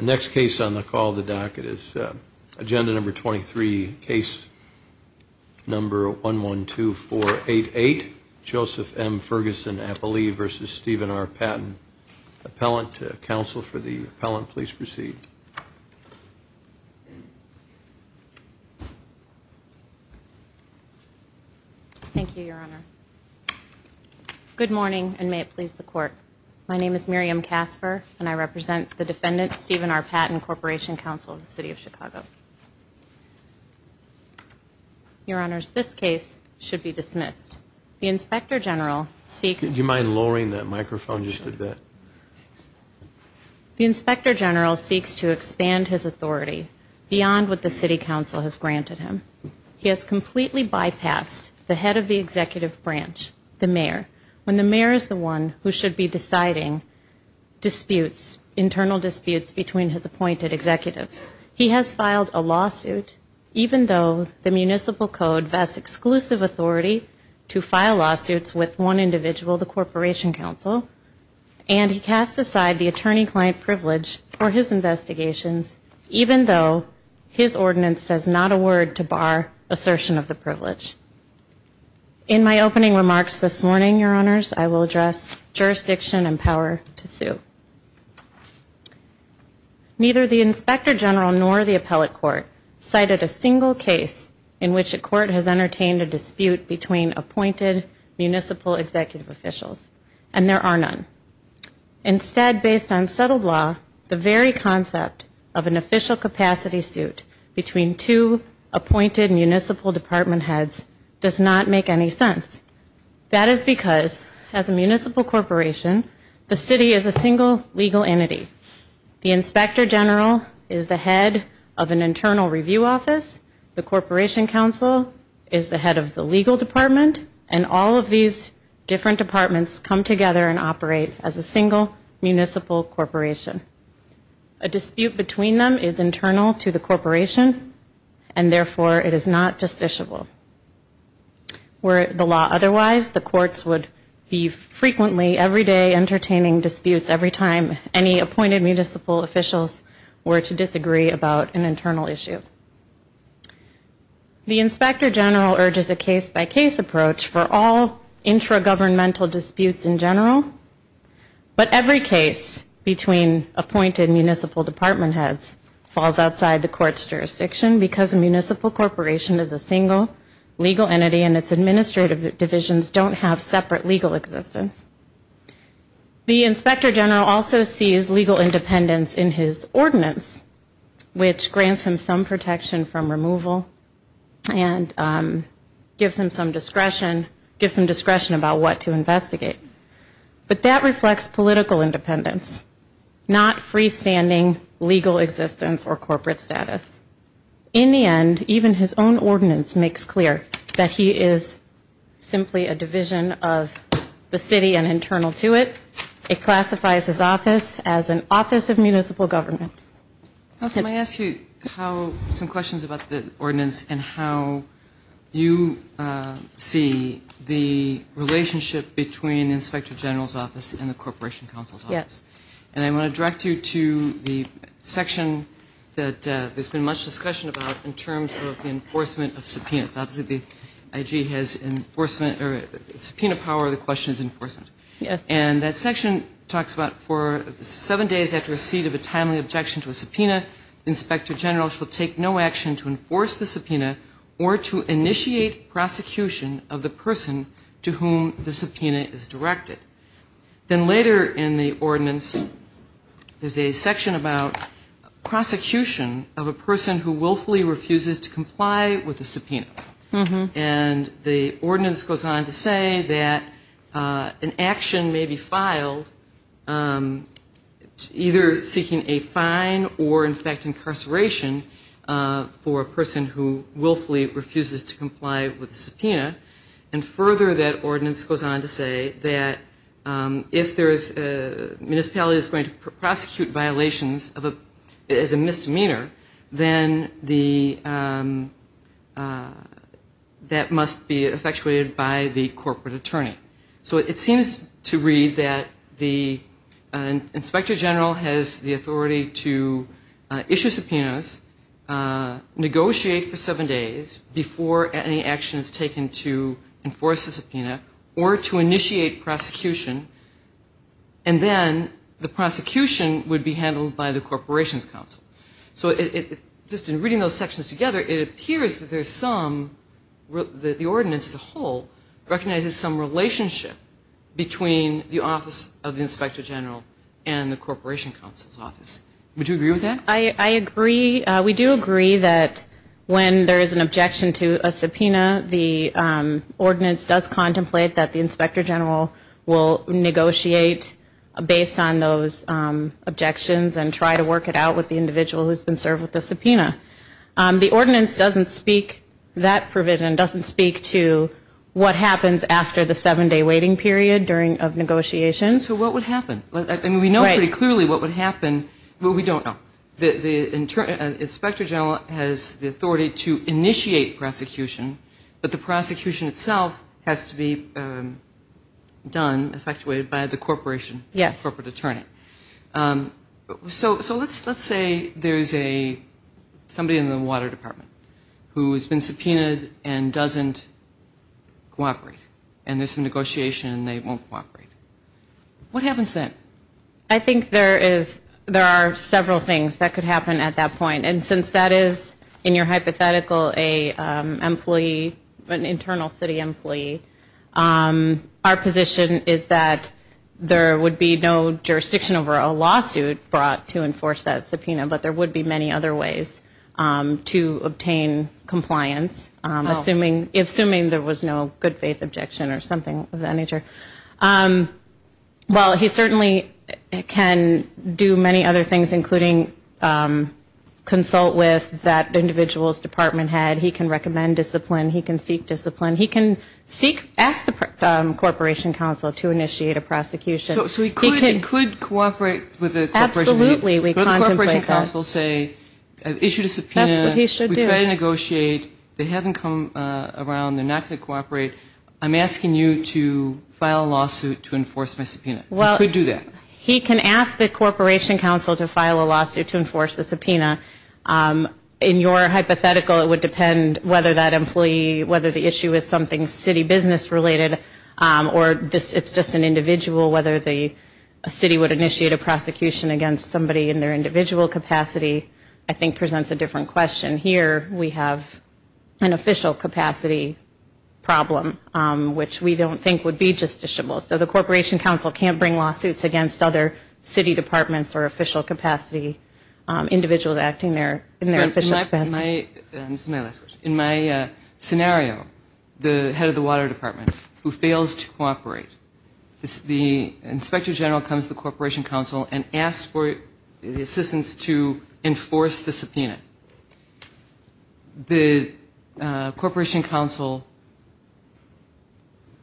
Next case on the call the docket is agenda number 23 case Number one one two four eight eight Joseph M. Ferguson, I believe versus Stephen R. Patton Appellant to counsel for the appellant, please proceed Thank you, Your Honor Good morning, and may it please the court My name is Miriam Casper, and I represent the defendant Stephen R. Patton Corporation Council of the city of Chicago Your honors this case should be dismissed the inspector general seeks you mind lowering that microphone just did that The inspector general seeks to expand his authority Beyond what the City Council has granted him he has completely bypassed the head of the executive branch The mayor when the mayor is the one who should be deciding disputes internal disputes between his appointed executives He has filed a lawsuit even though the Municipal Code vests exclusive authority to file lawsuits with one individual the Corporation Council and He cast aside the attorney-client privilege for his investigations Even though his ordinance says not a word to bar assertion of the privilege In my opening remarks this morning your honors, I will address jurisdiction and power to sue Neither the inspector general nor the appellate court Cited a single case in which the court has entertained a dispute between appointed Municipal executive officials and there are none Instead based on settled law the very concept of an official capacity suit between two Appointed municipal department heads does not make any sense That is because as a municipal corporation the city is a single legal entity The inspector general is the head of an internal review office The Corporation Council is the head of the legal department and all of these different departments come together and operate as a single municipal corporation a It is not justiciable Where the law otherwise the courts would be frequently every day entertaining disputes every time any appointed municipal Officials were to disagree about an internal issue The inspector general urges a case-by-case approach for all intragovernmental disputes in general but every case between Appointed municipal department heads falls outside the court's jurisdiction because a municipal corporation is a single Legal entity and its administrative divisions don't have separate legal existence The inspector general also sees legal independence in his ordinance which grants him some protection from removal and Gives him some discretion gives him discretion about what to investigate But that reflects political independence Not freestanding legal existence or corporate status in the end even his own ordinance makes clear that he is simply a division of The city and internal to it it classifies his office as an office of municipal government How can I ask you how some questions about the ordinance and how? you see the Relationship between the inspector general's office and the Corporation Council's yes and I want to direct you to the Section that there's been much discussion about in terms of the enforcement of subpoenas obviously the IG has Enforcement or subpoena power the question is enforcement Yes And that section talks about for seven days after a seat of a timely objection to a subpoena Inspector general shall take no action to enforce the subpoena or to initiate Prosecution of the person to whom the subpoena is directed then later in the ordinance There's a section about prosecution of a person who willfully refuses to comply with the subpoena mm-hmm and the ordinance goes on to say that An action may be filed Either seeking a fine or in fact incarceration For a person who willfully refuses to comply with the subpoena and further that ordinance goes on to say that if there is a municipality is going to prosecute violations of a as a misdemeanor then the That must be effectuated by the corporate attorney, so it seems to read that the inspector general has the authority to issue subpoenas Negotiate for seven days before any action is taken to enforce the subpoena or to initiate prosecution and Then the prosecution would be handled by the Corporation's Council, so it just in reading those sections together it appears that there's some That the ordinance as a whole recognizes some relationship Between the office of the inspector general and the Corporation Council's office would you agree with that I agree we do agree that when there is an objection to a subpoena the Ordinance does contemplate that the inspector general will negotiate based on those Objections and try to work it out with the individual who's been served with the subpoena The ordinance doesn't speak that provision doesn't speak to What happens after the seven-day waiting period during of negotiations, so what would happen like that? I mean, we know very clearly what would happen, but we don't know the Inspector general has the authority to initiate prosecution, but the prosecution itself has to be Done effectuated by the corporation. Yes corporate attorney so so let's let's say there's a somebody in the water department who has been subpoenaed and doesn't Cooperate and there's some negotiation, and they won't cooperate What happens that I think there is there are several things that could happen at that point and since that is in your hypothetical a employee an internal city employee Our position is that there would be no jurisdiction over a lawsuit brought to enforce that subpoena But there would be many other ways to obtain Compliance assuming if assuming there was no good-faith objection or something of that nature Well he certainly can do many other things including Consult with that Individuals department had he can recommend discipline he can seek discipline. He can seek ask the With the absolutely we Council say Issue to subpoena he should negotiate they haven't come around they're not going to cooperate I'm asking you to file a lawsuit to enforce my subpoena well We do that he can ask the Corporation Council to file a lawsuit to enforce the subpoena In your hypothetical it would depend whether that employee whether the issue is something city business related Or this it's just an individual whether the City would initiate a prosecution against somebody in their individual capacity. I think presents a different question here we have an official capacity Problem which we don't think would be justiciable so the Corporation Council can't bring lawsuits against other city departments or official capacity individuals acting there in their in my In my Scenario the head of the water department who fails to cooperate It's the inspector general comes the Corporation Council and asks for the assistance to enforce the subpoena The Corporation Council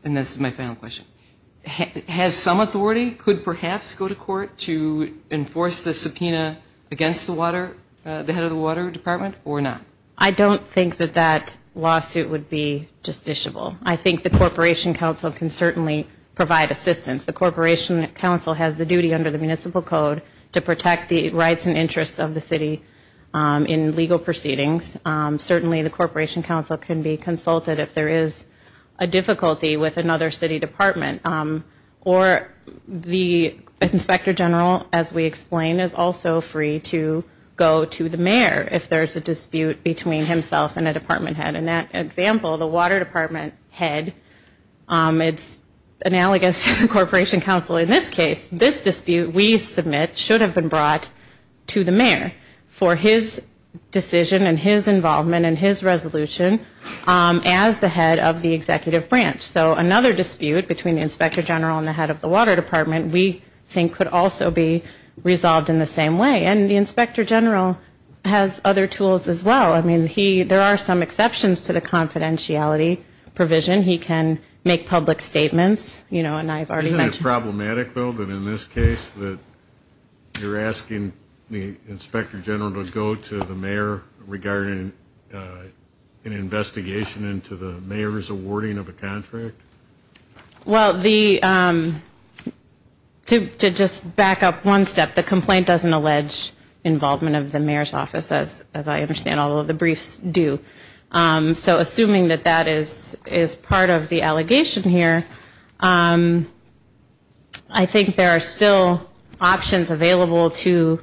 And this is my final question Has some authority could perhaps go to court to enforce the subpoena against the water The head of the water department or not, I don't think that that lawsuit would be justiciable I think the Corporation Council can certainly provide assistance the Corporation Council has the duty under the Municipal Code To protect the rights and interests of the city in legal proceedings certainly the Corporation Council can be consulted if there is a difficulty with another city department or The inspector general as we explain is also free to Go to the mayor if there's a dispute between himself and a department head in that example the water department head It's analogous to the Corporation Council in this case this dispute. We submit should have been brought to the mayor for his Decision and his involvement and his resolution As the head of the executive branch so another dispute between the inspector general and the head of the water department We think could also be resolved in the same way and the inspector general has other tools as well I mean he there are some exceptions to the confidentiality provision. He can make public statements You know and I've already mentioned problematic though that in this case that You're asking the inspector general to go to the mayor regarding An investigation into the mayor's awarding of a contract well the To just back up one step the complaint doesn't allege Involvement of the mayor's office as as I understand all of the briefs do So assuming that that is is part of the allegation here I Think there are still options available to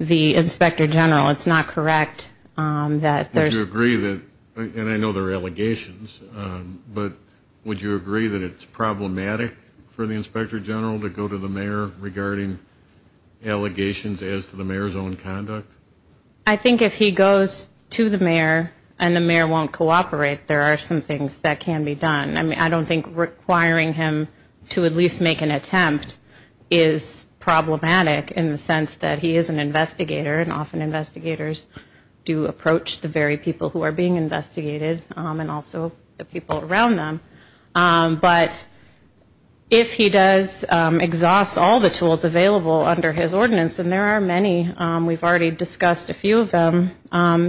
the inspector general. It's not correct That there's agree that and I know there are allegations But would you agree that it's problematic for the inspector general to go to the mayor regarding? Allegations as to the mayor's own conduct I think if he goes to the mayor and the mayor won't cooperate there are some things that can be done I mean, I don't think requiring him to at least make an attempt is Problematic in the sense that he is an investigator and often investigators Do approach the very people who are being investigated and also the people around them? but if he does Exhaust all the tools available under his ordinance, and there are many we've already discussed a few of them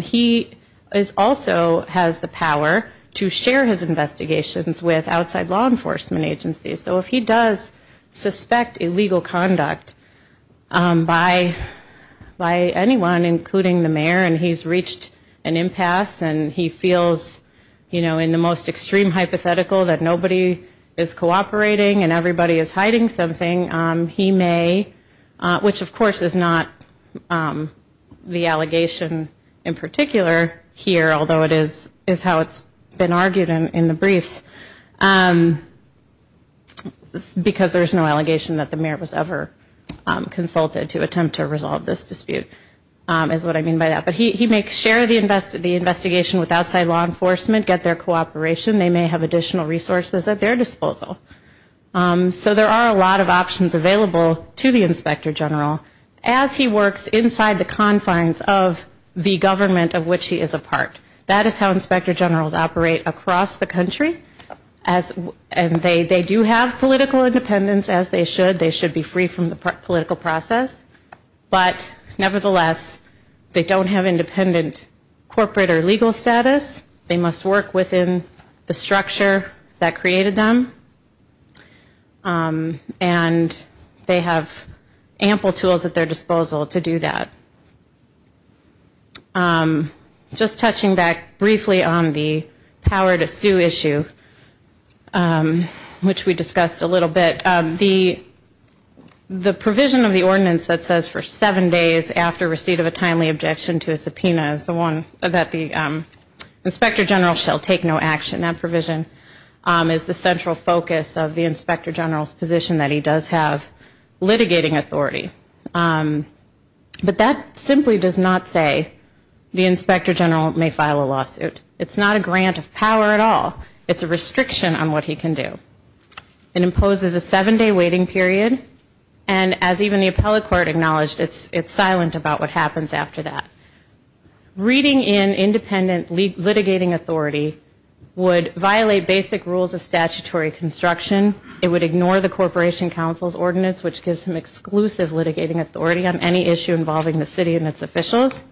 He is also has the power to share his investigations with outside law enforcement agencies, so if he does Suspect illegal conduct by By anyone including the mayor and he's reached an impasse And he feels you know in the most extreme hypothetical that nobody is cooperating and everybody is hiding something He may Which of course is not? The allegation in particular here although it is is how it's been argued in the briefs Because there's no allegation that the mayor was ever Consulted to attempt to resolve this dispute Is what I mean by that, but he makes share the invested the investigation with outside law enforcement get their cooperation They may have additional resources at their disposal So there are a lot of options available To the inspector general as he works inside the confines of the government of which he is a part That is how inspector generals operate across the country as And they they do have political independence as they should they should be free from the political process But nevertheless They don't have independent Corporate or legal status they must work within the structure that created them And they have ample tools at their disposal to do that I'm just touching back briefly on the power to sue issue Which we discussed a little bit the the provision of the ordinance that says for seven days after receipt of a timely objection to a subpoena is the one that the Inspector general shall take no action that provision is the central focus of the inspector generals position that he does have litigating authority But that simply does not say the inspector general may file a lawsuit It's not a grant of power at all. It's a restriction on what he can do It imposes a seven-day waiting period and as even the appellate court acknowledged. It's it's silent about what happens after that reading in independent litigating authority Would violate basic rules of statutory construction it would ignore the Corporation Council's ordinance which gives him exclusive litigating authority on any issue involving the city and its officials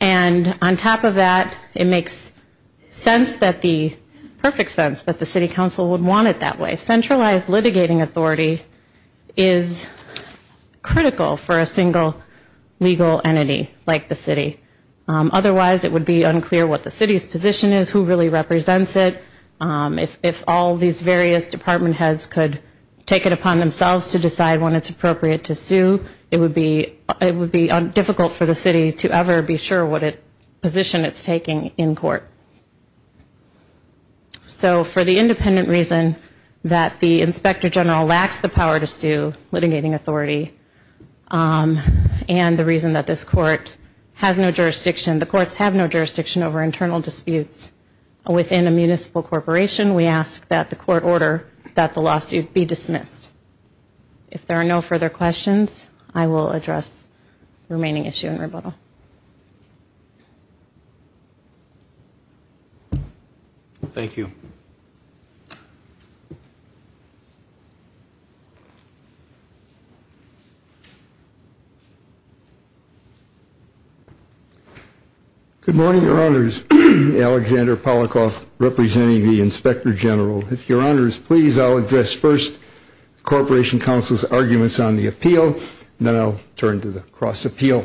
and on top of that it makes sense that the perfect sense that the City Council would want it that way centralized litigating authority is Critical for a single legal entity like the city Otherwise it would be unclear what the city's position is who really represents it If all these various department heads could take it upon themselves to decide when it's appropriate to sue it would be It would be difficult for the city to ever be sure what it position. It's taking in court So for the independent reason that the inspector general lacks the power to sue litigating authority And the reason that this court has no jurisdiction the courts have no jurisdiction over internal disputes Within a municipal corporation. We ask that the court order that the lawsuit be dismissed If there are no further questions, I will address remaining issue in rebuttal Thank you Good morning your honors Alexander Polikoff representing the inspector general if your honors, please I'll address first Corporation Council's arguments on the appeal now turn to the cross appeal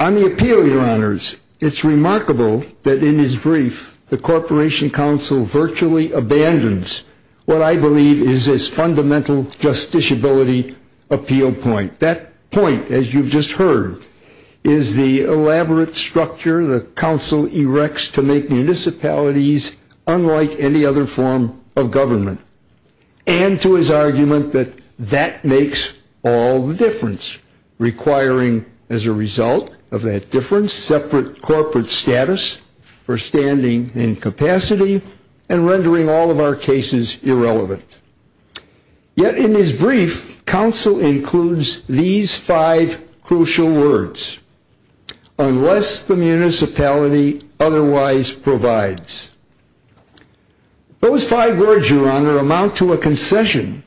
On the appeal your honors. It's remarkable that in his brief the Corporation Council virtually abandoned What I believe is this fundamental justice ability appeal point that point as you've just heard is the elaborate structure the council erects to make municipalities unlike any other form of government and To his argument that that makes all the difference requiring as a result of that difference separate corporate status for standing in capacity and rendering all of our cases irrelevant Yet in his brief council includes these five crucial words unless the municipality otherwise provides Those five words your honor amount to a concession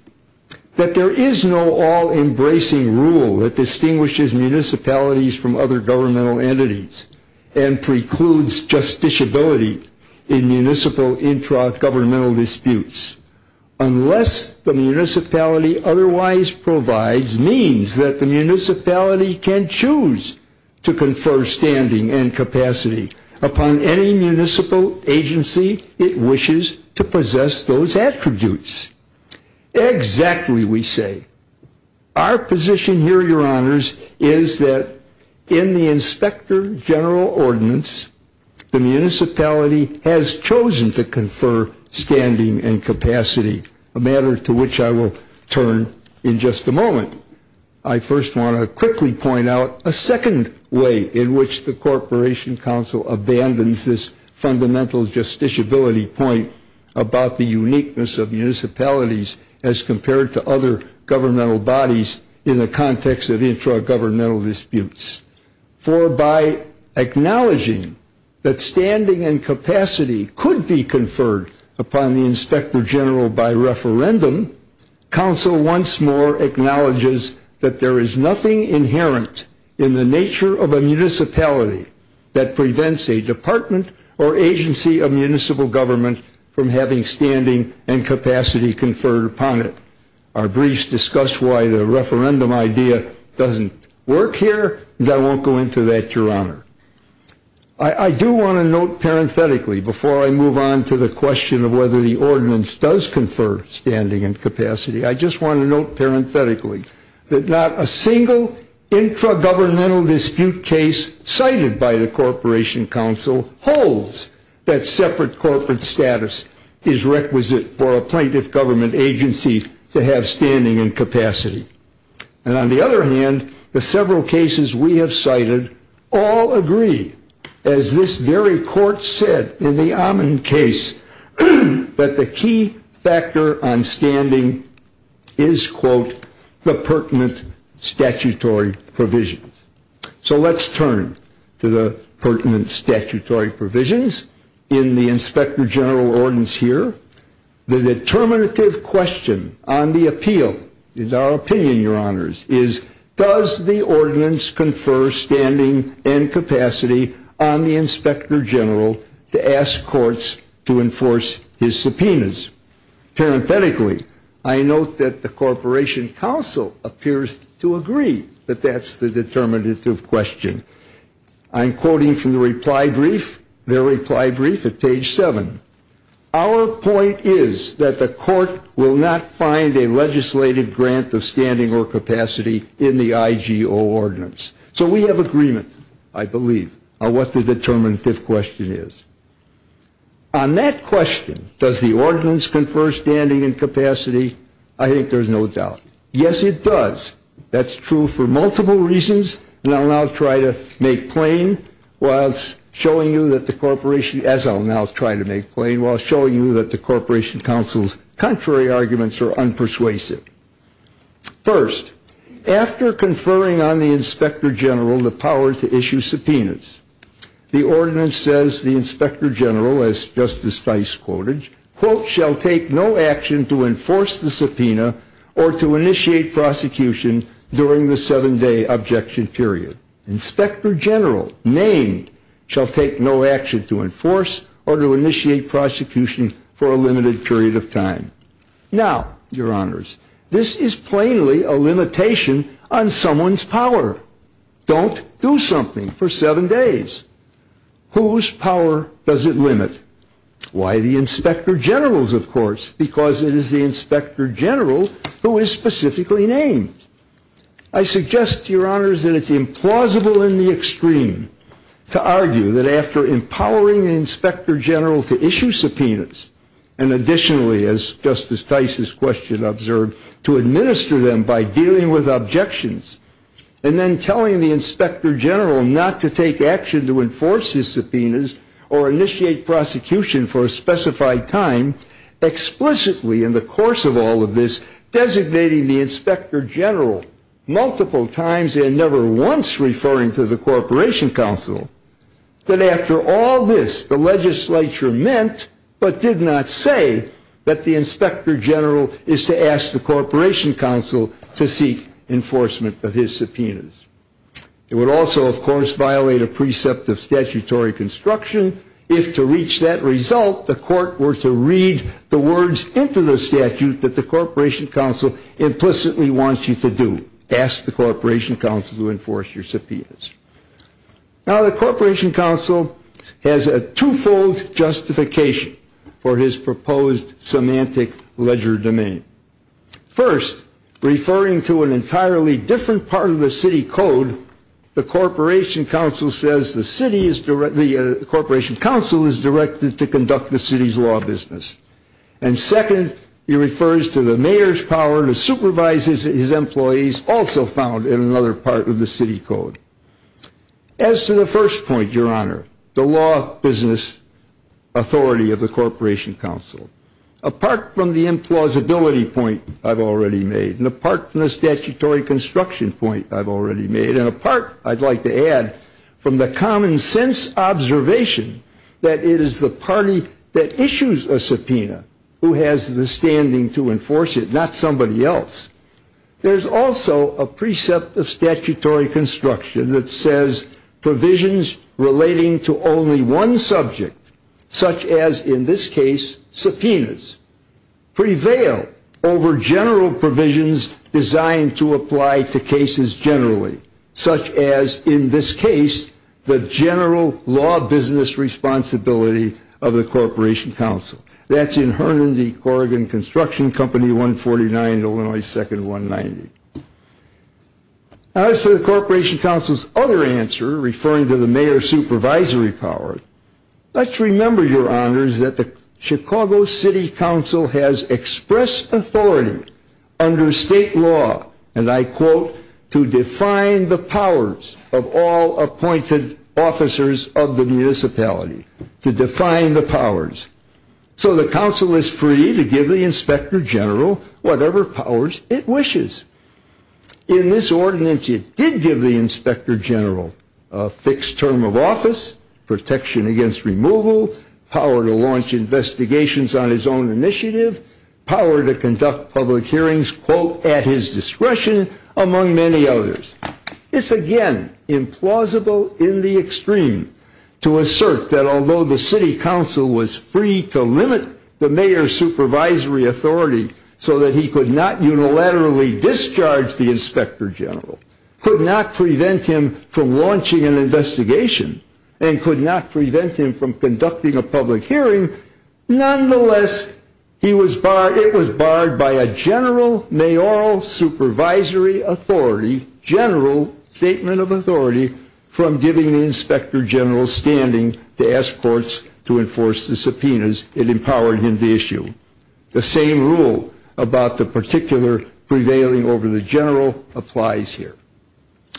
that there is no all-embracing rule that distinguishes municipalities from other governmental entities and precludes Justiciability in municipal intra governmental disputes Unless the municipality otherwise provides means that the municipality can choose to confer standing and capacity upon any municipal agency it wishes to possess those attributes Exactly we say our Position here your honors is that in the inspector general ordinance? The municipality has chosen to confer standing and capacity a matter to which I will turn in just a moment I first want to quickly point out a second way in which the Corporation Council Abandons this fundamental justiciability point about the uniqueness of municipalities as compared to other governmental bodies in the context of intra governmental disputes for by Acknowledging that standing and capacity could be conferred upon the inspector general by referendum council once more acknowledges that there is nothing inherent in the nature of a municipality that prevents a department or agency of municipal government from having standing and Capacity conferred upon it our briefs discuss Why the referendum idea doesn't work here that won't go into that your honor I Do want to note parenthetically before I move on to the question of whether the ordinance does confer standing and capacity I just want to note parenthetically that not a single intra-governmental dispute case cited by the Corporation Council Holds that separate corporate status is requisite for a plaintiff government agency to have standing and capacity And on the other hand the several cases we have cited all Agree as this very court said in the Amman case That the key factor on standing is quote the pertinent statutory provision So let's turn to the pertinent statutory provisions in the inspector general ordinance here The determinative question on the appeal is our opinion your honors is does the ordinance confer Standing and capacity on the inspector general to ask courts to enforce his subpoenas Parenthetically, I note that the Corporation Council appears to agree that that's the determinative question I'm quoting from the reply brief their reply brief at page 7 our Point is that the court will not find a legislative grant of standing or capacity in the IGO Ordinance, so we have agreement. I believe what the determinative question is On that question does the ordinance confer standing and capacity. I think there's no doubt yes It does that's true for multiple reasons, and I'll now try to make plain While it's showing you that the corporation as I'll now try to make plain while showing you that the Corporation Council's Contrary arguments are unpersuasive first After conferring on the inspector general the power to issue subpoenas The ordinance says the inspector general as justice vice quoted quote shall take no action to enforce the subpoena or to initiate prosecution during the seven-day objection period Inspector general named shall take no action to enforce or to initiate prosecution for a limited period of time Now your honors. This is plainly a limitation on someone's power Don't do something for seven days Whose power does it limit? Why the inspector generals of course because it is the inspector general who is specifically named I? Extreme to argue that after empowering the inspector general to issue subpoenas and additionally as Justice Tice's question observed to administer them by dealing with objections and Then telling the inspector general not to take action to enforce his subpoenas or initiate prosecution for a specified time explicitly in the course of all of this designating the inspector general Multiple times and never once referring to the corporation council but after all this the legislature meant But did not say that the inspector general is to ask the corporation council to seek enforcement of his subpoenas It would also of course violate a precept of statutory construction If to reach that result the court were to read the words into the statute that the corporation council Implicitly wants you to do ask the corporation council to enforce your subpoenas Now the corporation council has a twofold justification for his proposed semantic ledger domain first Referring to an entirely different part of the city code the corporation council says the city is directly the corporation council is directed to conduct the city's law business and Second he refers to the mayor's power to supervise his employees also found in another part of the city code As to the first point your honor the law business authority of the corporation council Apart from the implausibility point I've already made and apart from the statutory construction point I've already made and apart. I'd like to add from the common-sense Observation that it is the party that issues a subpoena who has the standing to enforce it not somebody else There's also a precept of statutory construction that says provisions relating to only one subject such as in this case subpoenas prevail over general provisions designed to apply to cases generally such as in this case the general law business Responsibility of the corporation council that's in Herndon D. Corrigan construction company 149, Illinois 2nd 190 As to the corporation council's other answer referring to the mayor's supervisory power Let's remember your honors that the Chicago City Council has expressed authority Under state law and I quote to define the powers of all appointed officers of the municipality to define the powers So the council is free to give the inspector general whatever powers it wishes In this ordinance it did give the inspector general a fixed term of office protection against removal power to launch Investigations on his own initiative power to conduct public hearings quote at his discretion among many others It's again implausible in the extreme To assert that although the City Council was free to limit the mayor's supervisory authority So that he could not unilaterally discharge the inspector general could not prevent him from launching an investigation and Could not prevent him from conducting a public hearing Nonetheless, he was barred. It was barred by a general may all supervisory authority general statement of authority From giving the inspector general standing to ask courts to enforce the subpoenas it empowered him the issue The same rule about the particular prevailing over the general applies here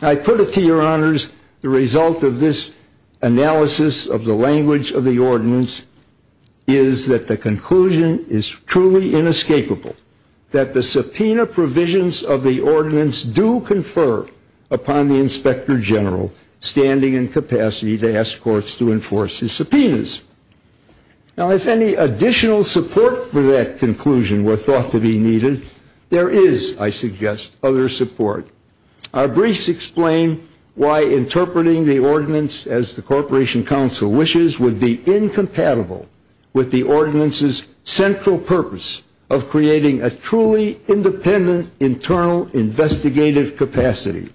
I put it to your honors the result of this Analysis of the language of the ordinance is That the conclusion is truly inescapable That the subpoena provisions of the ordinance do confer upon the inspector general Standing and capacity to ask courts to enforce his subpoenas Now if any additional support for that conclusion were thought to be needed there is I suggest other support Our briefs explain why interpreting the ordinance as the Corporation Council wishes would be incompatible with the ordinances central purpose of creating a truly independent internal investigative capacity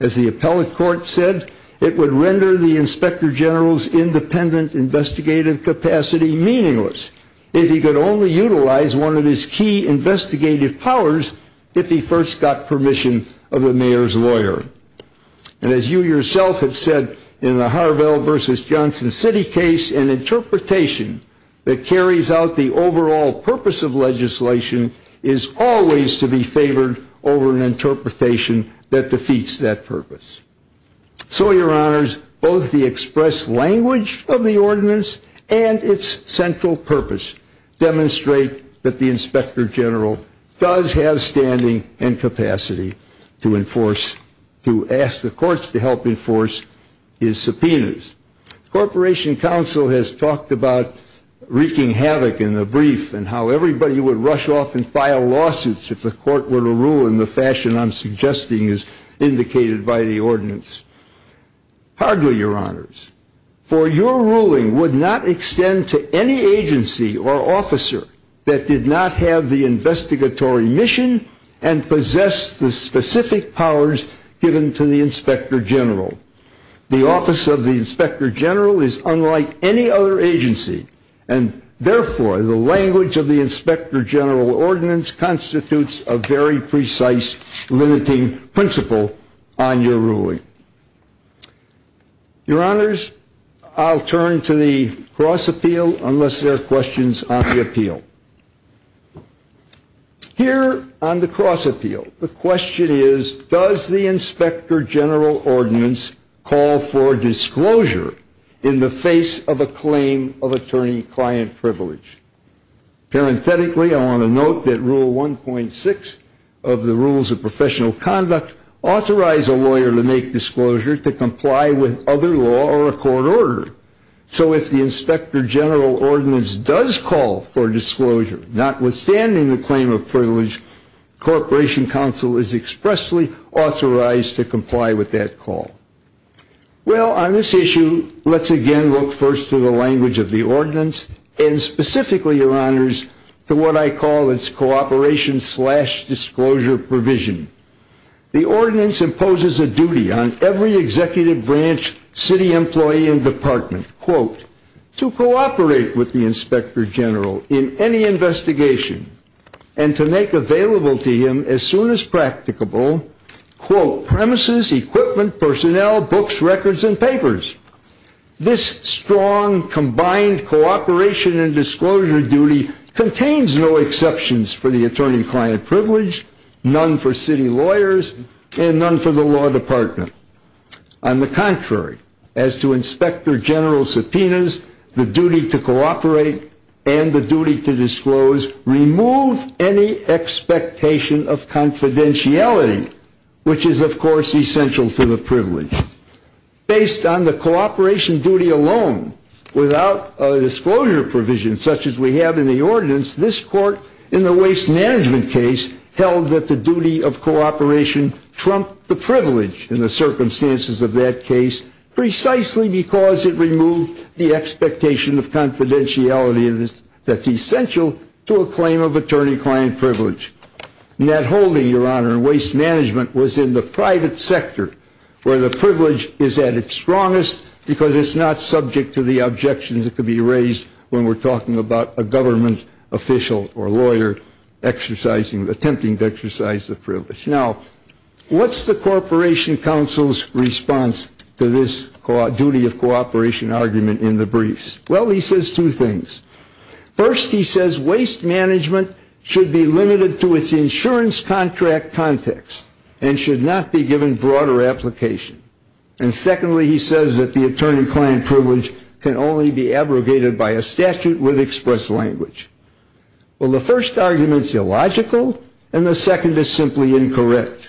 as the appellate court said it would render the inspector general's Independent investigative capacity meaningless if he could only utilize one of his key Investigative powers if he first got permission of the mayor's lawyer and as you yourself have said in the Harvell versus Johnson City case an interpretation that carries out the overall purpose of legislation is Always to be favored over an interpretation that defeats that purpose So your honors both the express language of the ordinance and its central purpose Demonstrate that the inspector general Does have standing and capacity to enforce to ask the courts to help enforce his subpoenas? Corporation Council has talked about Wreaking havoc in the brief and how everybody would rush off and file lawsuits if the court were to rule in the fashion I'm suggesting is indicated by the ordinance Hardly your honors for your ruling would not extend to any agency or officer that did not have the investigatory mission and Possess the specific powers given to the inspector general the office of the inspector general is unlike any other agency and Therefore the language of the inspector general ordinance constitutes a very precise limiting principle on your ruling Your honors I'll turn to the cross appeal unless there are questions on the appeal Here on the cross appeal the question is does the inspector general ordinance call for disclosure in the face of a claim of attorney-client privilege Parenthetically, I want to note that rule 1.6 of the rules of professional conduct Authorize a lawyer to make disclosure to comply with other law or a court order So if the inspector general ordinance does call for disclosure notwithstanding the claim of privilege Corporation Council is expressly authorized to comply with that call well on this issue, let's again look first to the language of the ordinance and Specifically your honors to what I call its cooperation Disclosure provision the ordinance imposes a duty on every executive branch city employee in department quote to cooperate with the inspector general in any investigation and To make available to him as soon as practicable quote premises equipment personnel books records and papers This strong combined cooperation and disclosure duty contains no exceptions for the attorney-client privilege none for city lawyers and none for the law department on the contrary as to inspector general subpoenas the duty to cooperate and the duty to disclose remove any expectation of Confidentiality, which is of course essential to the privilege based on the cooperation duty alone without a Ordinance this court in the waste management case held that the duty of cooperation Trump the privilege in the circumstances of that case Precisely because it removed the expectation of confidentiality of this that's essential to a claim of attorney-client privilege Net holding your honor and waste management was in the private sector Where the privilege is at its strongest because it's not subject to the objections It could be raised when we're talking about a government official or lawyer Exercising the attempting to exercise the privilege now What's the Corporation Council's response to this duty of cooperation argument in the briefs? Well, he says two things First he says waste management should be limited to its insurance contract context and should not be given broader application and Only be abrogated by a statute with express language Well, the first argument is illogical and the second is simply incorrect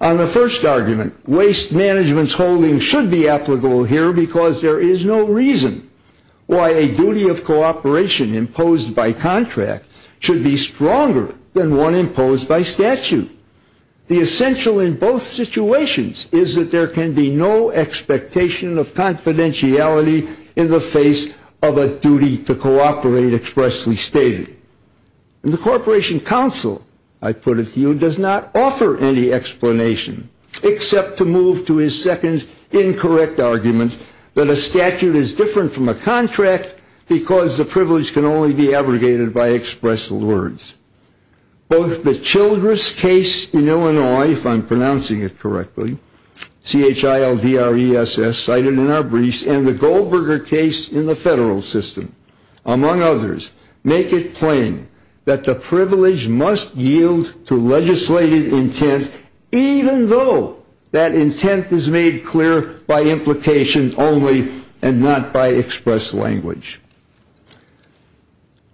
on The first argument waste management's holding should be applicable here because there is no reason Why a duty of cooperation imposed by contract should be stronger than one imposed by statute The essential in both situations is that there can be no expectation of Confidentiality in the face of a duty to cooperate expressly stated And the Corporation Council I put it to you does not offer any explanation Except to move to his second Incorrect argument that a statute is different from a contract because the privilege can only be abrogated by express words Both the Childress case in Illinois if I'm pronouncing it correctly Childre SS cited in our briefs and the Goldberger case in the federal system Among others make it plain that the privilege must yield to legislated intent Even though that intent is made clear by implications only and not by express language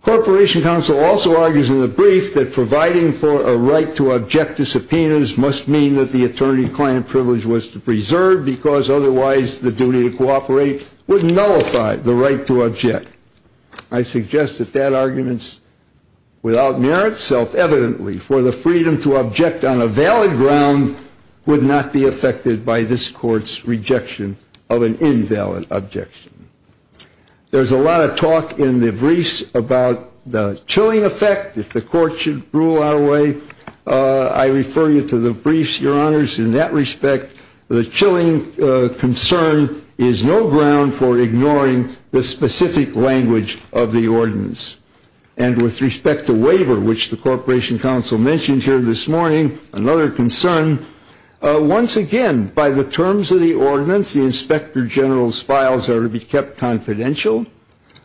Corporation council also argues in the brief that providing for a right to object to subpoenas must mean that the attorney-client Privilege was to preserve because otherwise the duty to cooperate Wouldn't nullify the right to object. I suggest that that arguments Without merit self-evidently for the freedom to object on a valid ground Would not be affected by this courts rejection of an invalid objection There's a lot of talk in the briefs about the chilling effect if the court should rule our way I refer you to the briefs your honors in that respect the chilling concern is no ground for ignoring the specific language of the ordinance and With respect to waiver which the Corporation Council mentioned here this morning another concern Once again by the terms of the ordinance the inspector-general's files are to be kept confidential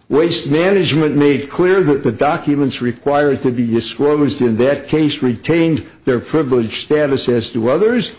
waste management made clear that the documents required to be disclosed in that case retained their privilege status as to others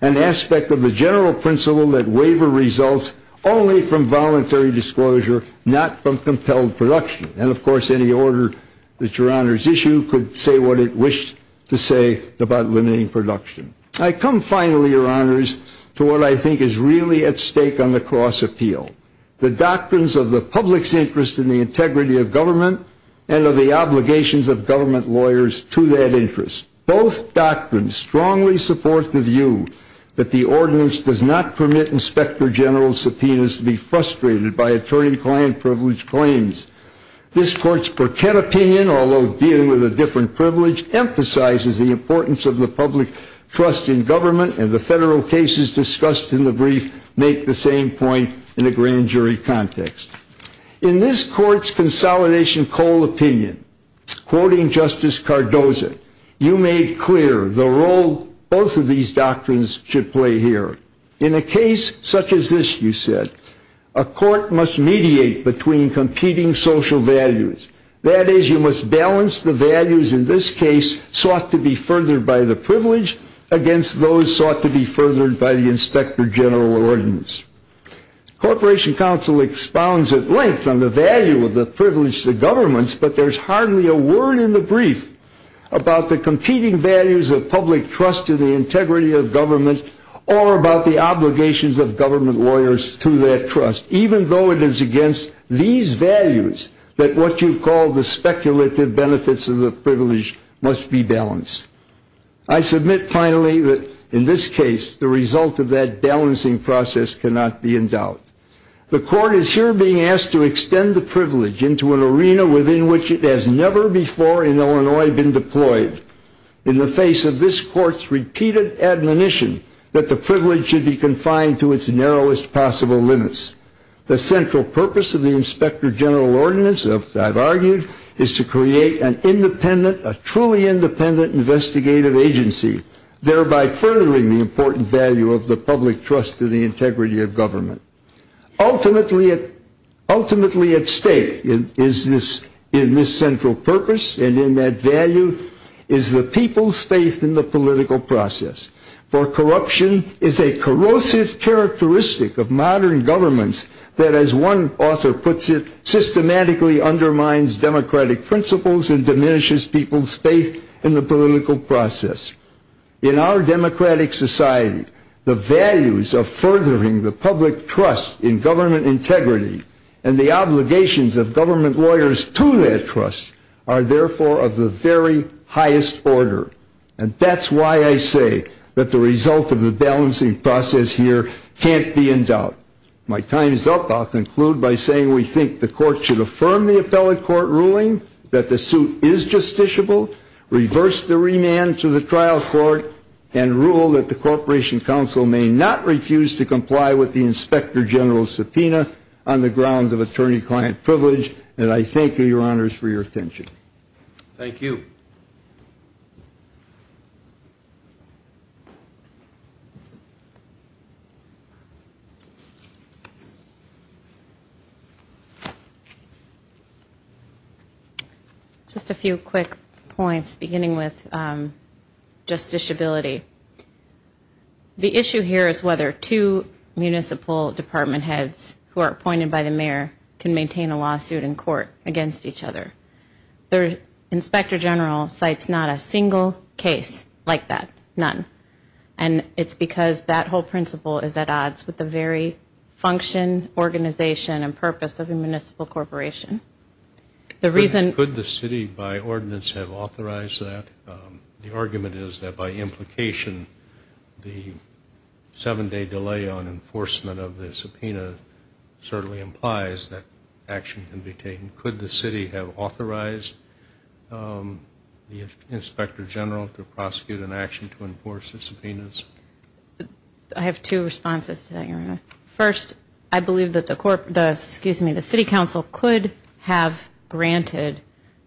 an Aspect of the general principle that waiver results only from voluntary disclosure Not from compelled production and of course any order that your honors issue could say what it wished to say about limiting production I come finally your honors to what I think is really at stake on the cross appeal the doctrines of the public's interest in the integrity of government and of the obligations of government lawyers to that interest both doctrines strongly support the view that the ordinance does not permit inspector-general subpoenas to be frustrated by attorney-client privilege claims This court's Burkett opinion although dealing with a different privilege Emphasizes the importance of the public trust in government and the federal cases discussed in the brief make the same point in a grand jury context in this court's consolidation coal opinion Quoting justice Cardoza you made clear the role both of these doctrines should play here in a case such as this you said a Social values that is you must balance the values in this case sought to be furthered by the privilege Against those sought to be furthered by the inspector-general ordinance Corporation counsel expounds at length on the value of the privilege the government's but there's hardly a word in the brief about the competing values of public trust to the integrity of government or about the That what you call the speculative benefits of the privilege must be balanced I submit finally that in this case the result of that balancing process cannot be in doubt The court is here being asked to extend the privilege into an arena within which it has never before in Illinois been deployed In the face of this court's repeated admonition that the privilege should be confined to its narrowest possible limits The central purpose of the inspector-general ordinance of I've argued is to create an independent a truly independent Investigative agency thereby furthering the important value of the public trust to the integrity of government ultimately it ultimately at stake is this in this central purpose and in that value is The people's faith in the political process for corruption is a corrosive Characteristic of modern governments that as one author puts it Systematically undermines democratic principles and diminishes people's faith in the political process in our democratic society the values of furthering the public trust in government integrity and the obligations of government lawyers to their trust are Therefore of the very highest order and that's why I say that the result of the balancing process Here can't be in doubt. My time is up I'll conclude by saying we think the court should affirm the appellate court ruling that the suit is justiciable reverse the remand to the trial court and Rule that the Corporation Council may not refuse to comply with the inspector-general Subpoena on the grounds of attorney-client privilege and I thank you your honors for your attention Thank you Just A few quick points beginning with Justiciability The issue here is whether two Municipal department heads who are appointed by the mayor can maintain a lawsuit in court against each other their inspector-general Cites not a single case like that none and it's because that whole principle is at odds with the very function organization and purpose of a municipal corporation The reason could the city by ordinance have authorized that the argument is that by implication? the Seven day delay on enforcement of the subpoena Certainly implies that action can be taken could the city have authorized The inspector-general to prosecute an action to enforce the subpoenas I Have two responses to that your honor first. I believe that the court does excuse me the City Council could have Granted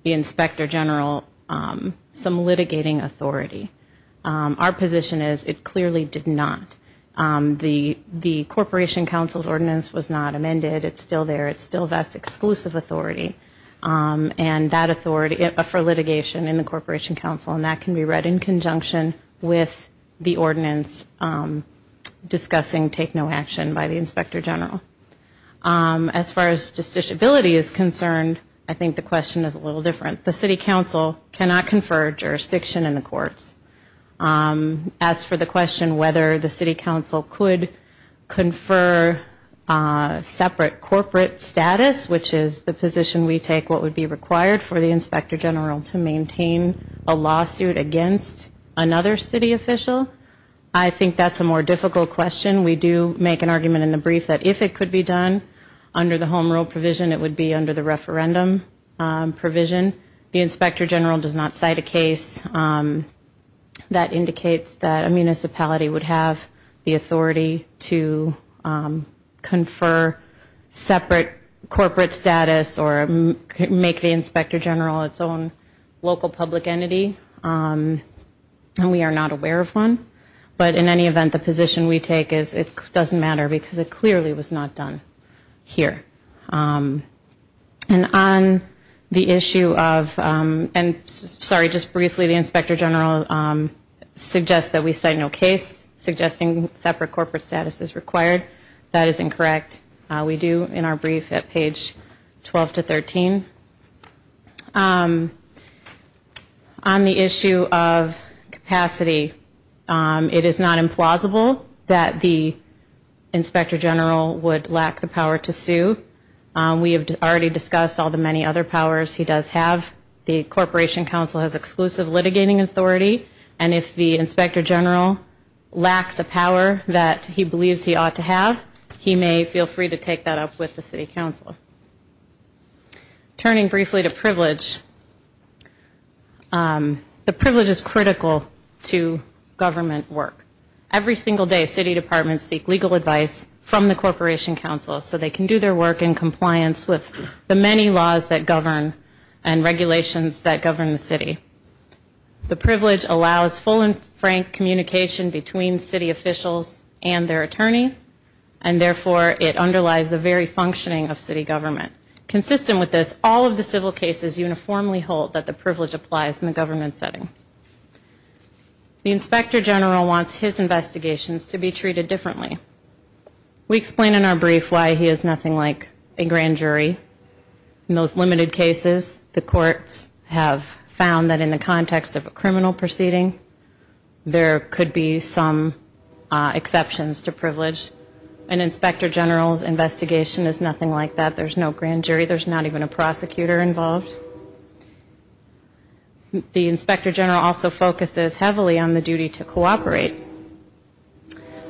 the inspector-general some litigating authority Our position is it clearly did not The the Corporation Council's ordinance was not amended. It's still there. It's still that's exclusive authority And that authority for litigation in the Corporation Council and that can be read in conjunction with the ordinance Discussing take no action by the inspector-general As far as justiciability is concerned. I think the question is a little different the City Council cannot confer jurisdiction in the courts As for the question whether the City Council could confer Separate corporate status, which is the position We take what would be required for the inspector-general to maintain a lawsuit against another city official I think that's a more difficult question We do make an argument in the brief that if it could be done under the home rule provision. It would be under the referendum Provision the inspector-general does not cite a case that indicates that a municipality would have the authority to Confer Separate corporate status or make the inspector-general its own local public entity And we are not aware of one, but in any event the position we take is it doesn't matter because it clearly was not done here And on the issue of and sorry just briefly the inspector-general Suggests that we say no case Suggesting separate corporate status is required. That is incorrect. We do in our brief at page 12 to 13 On the issue of capacity it is not implausible that the Inspector-general would lack the power to sue We have already discussed all the many other powers He does have the Corporation Council has exclusive litigating authority and if the inspector-general Lacks a power that he believes he ought to have he may feel free to take that up with the City Council Turning briefly to privilege The privilege is critical to government work Every single day City Departments seek legal advice from the Corporation Council so they can do their work in compliance The many laws that govern and regulations that govern the city the privilege allows full and frank communication between city officials and their attorney and Therefore it underlies the very functioning of city government Consistent with this all of the civil cases uniformly hold that the privilege applies in the government setting The inspector-general wants his investigations to be treated differently We explain in our brief why he is nothing like a grand jury In those limited cases the courts have found that in the context of a criminal proceeding There could be some Exceptions to privilege an inspector-general's investigation is nothing like that. There's no grand jury. There's not even a prosecutor involved The inspector-general also focuses heavily on the duty to cooperate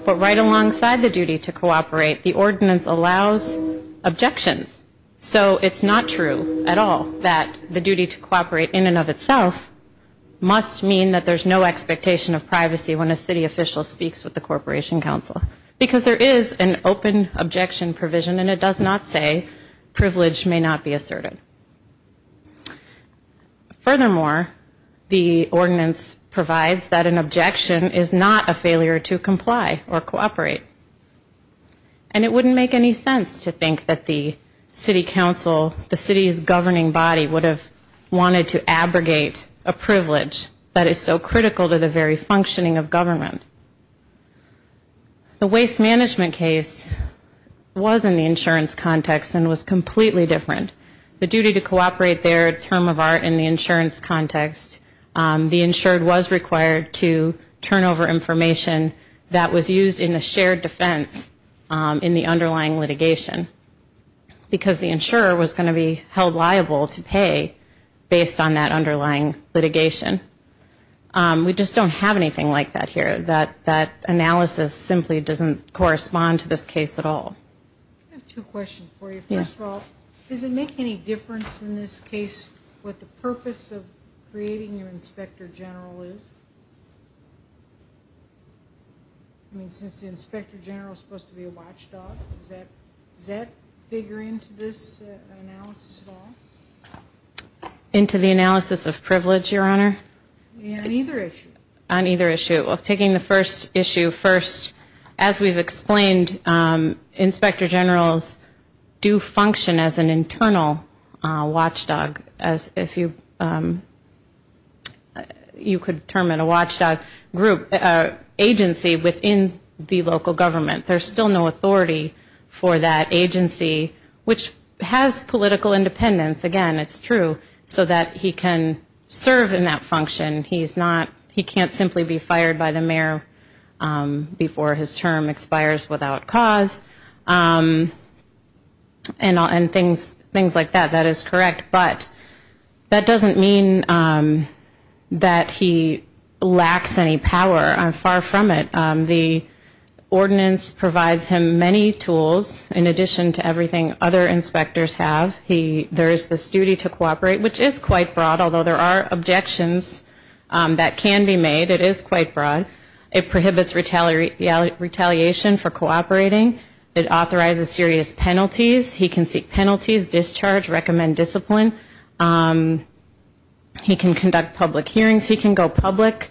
But right alongside the duty to cooperate the ordinance allows Objections, so it's not true at all that the duty to cooperate in and of itself Must mean that there's no expectation of privacy when a city official speaks with the Corporation Council Because there is an open objection provision, and it does not say Privilege may not be asserted Furthermore the ordinance provides that an objection is not a failure to comply or cooperate and It wouldn't make any sense to think that the City Council the city's governing body would have wanted to abrogate a Privilege that is so critical to the very functioning of government The waste management case Wasn't the insurance context and was completely different the duty to cooperate their term of art in the insurance context The insured was required to turn over information that was used in the shared defense in the underlying litigation Because the insurer was going to be held liable to pay based on that underlying litigation We just don't have anything like that here that that analysis simply doesn't correspond to this case at all Does it make any difference in this case what the purpose of creating your inspector-general is I mean since the inspector-general supposed to be a watchdog that that figure into this Into The analysis of privilege your honor In either issue on either issue of taking the first issue first as we've explained inspector-generals Do function as an internal? watchdog as if you You could term in a watchdog group Agency within the local government. There's still no authority for that agency Which has political independence again, it's true so that he can serve in that function He's not he can't simply be fired by the mayor before his term expires without cause And on things things like that that is correct, but that doesn't mean that he lacks any power I'm far from it the Ordinance provides him many tools in addition to everything other inspectors have he there's this duty to cooperate Which is quite broad although there are objections That can be made it is quite broad it prohibits retaliate Retaliation for cooperating it authorizes serious penalties. He can seek penalties discharge recommend discipline He can conduct public hearings he can go public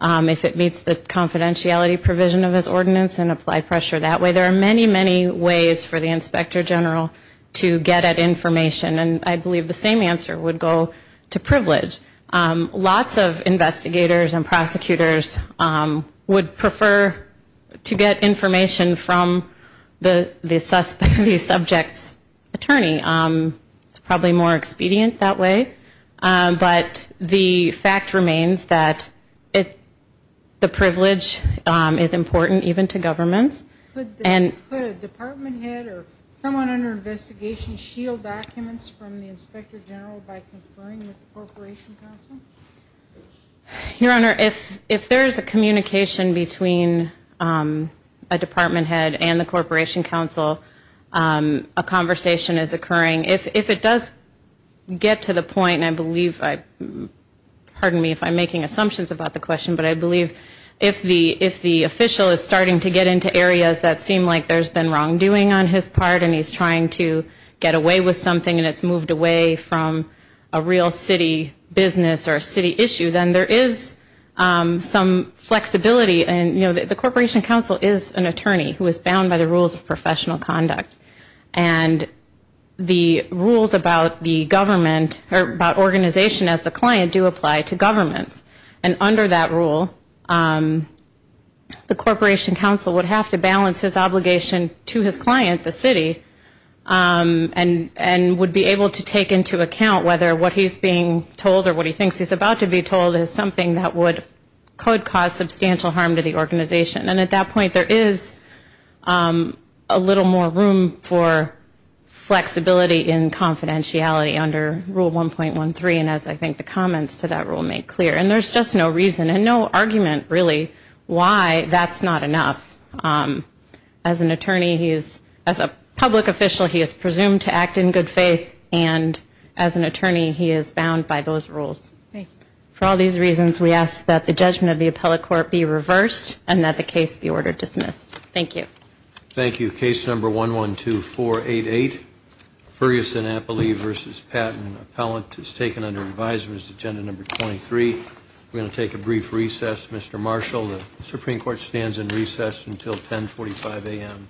If it meets the Confidentiality provision of his ordinance and apply pressure that way there are many many ways for the inspector-general To get at information, and I believe the same answer would go to privilege lots of investigators and prosecutors Would prefer to get information from the the suspect these subjects attorney It's probably more expedient that way But the fact remains that it the privilege is important even to governments Your honor if if there is a communication between a department head and the Corporation Council a conversation is occurring if it does Get to the point and I believe I Pardon me if I'm making assumptions about the question But I believe if the if the official is starting to get into areas that seem like there's been wrongdoing on his part And he's trying to get away with something and it's moved away from a real city business or a city issue then there is some flexibility and you know that the Corporation Council is an attorney who is bound by the rules of professional conduct and The rules about the government or about organization as the client do apply to governments and under that rule The Corporation Council would have to balance his obligation to his client the city And and would be able to take into account whether what he's being told or what he thinks he's about to be told is something That would could cause substantial harm to the organization and at that point there is a little more room for Flexibility in confidentiality under rule 1.13 and as I think the comments to that rule make clear and there's just no reason and no argument really Why that's not enough as an attorney he is as a public official he is presumed to act in good faith and As an attorney he is bound by those rules For all these reasons we ask that the judgment of the appellate court be reversed and that the case be ordered dismissed. Thank you Thank you case number 1 1 2 4 8 8 Ferguson Appley vs. Patton appellant is taken under advisers agenda number 23. We're going to take a brief recess Mr. Marshall the Supreme Court stands in recess until 1045 a.m.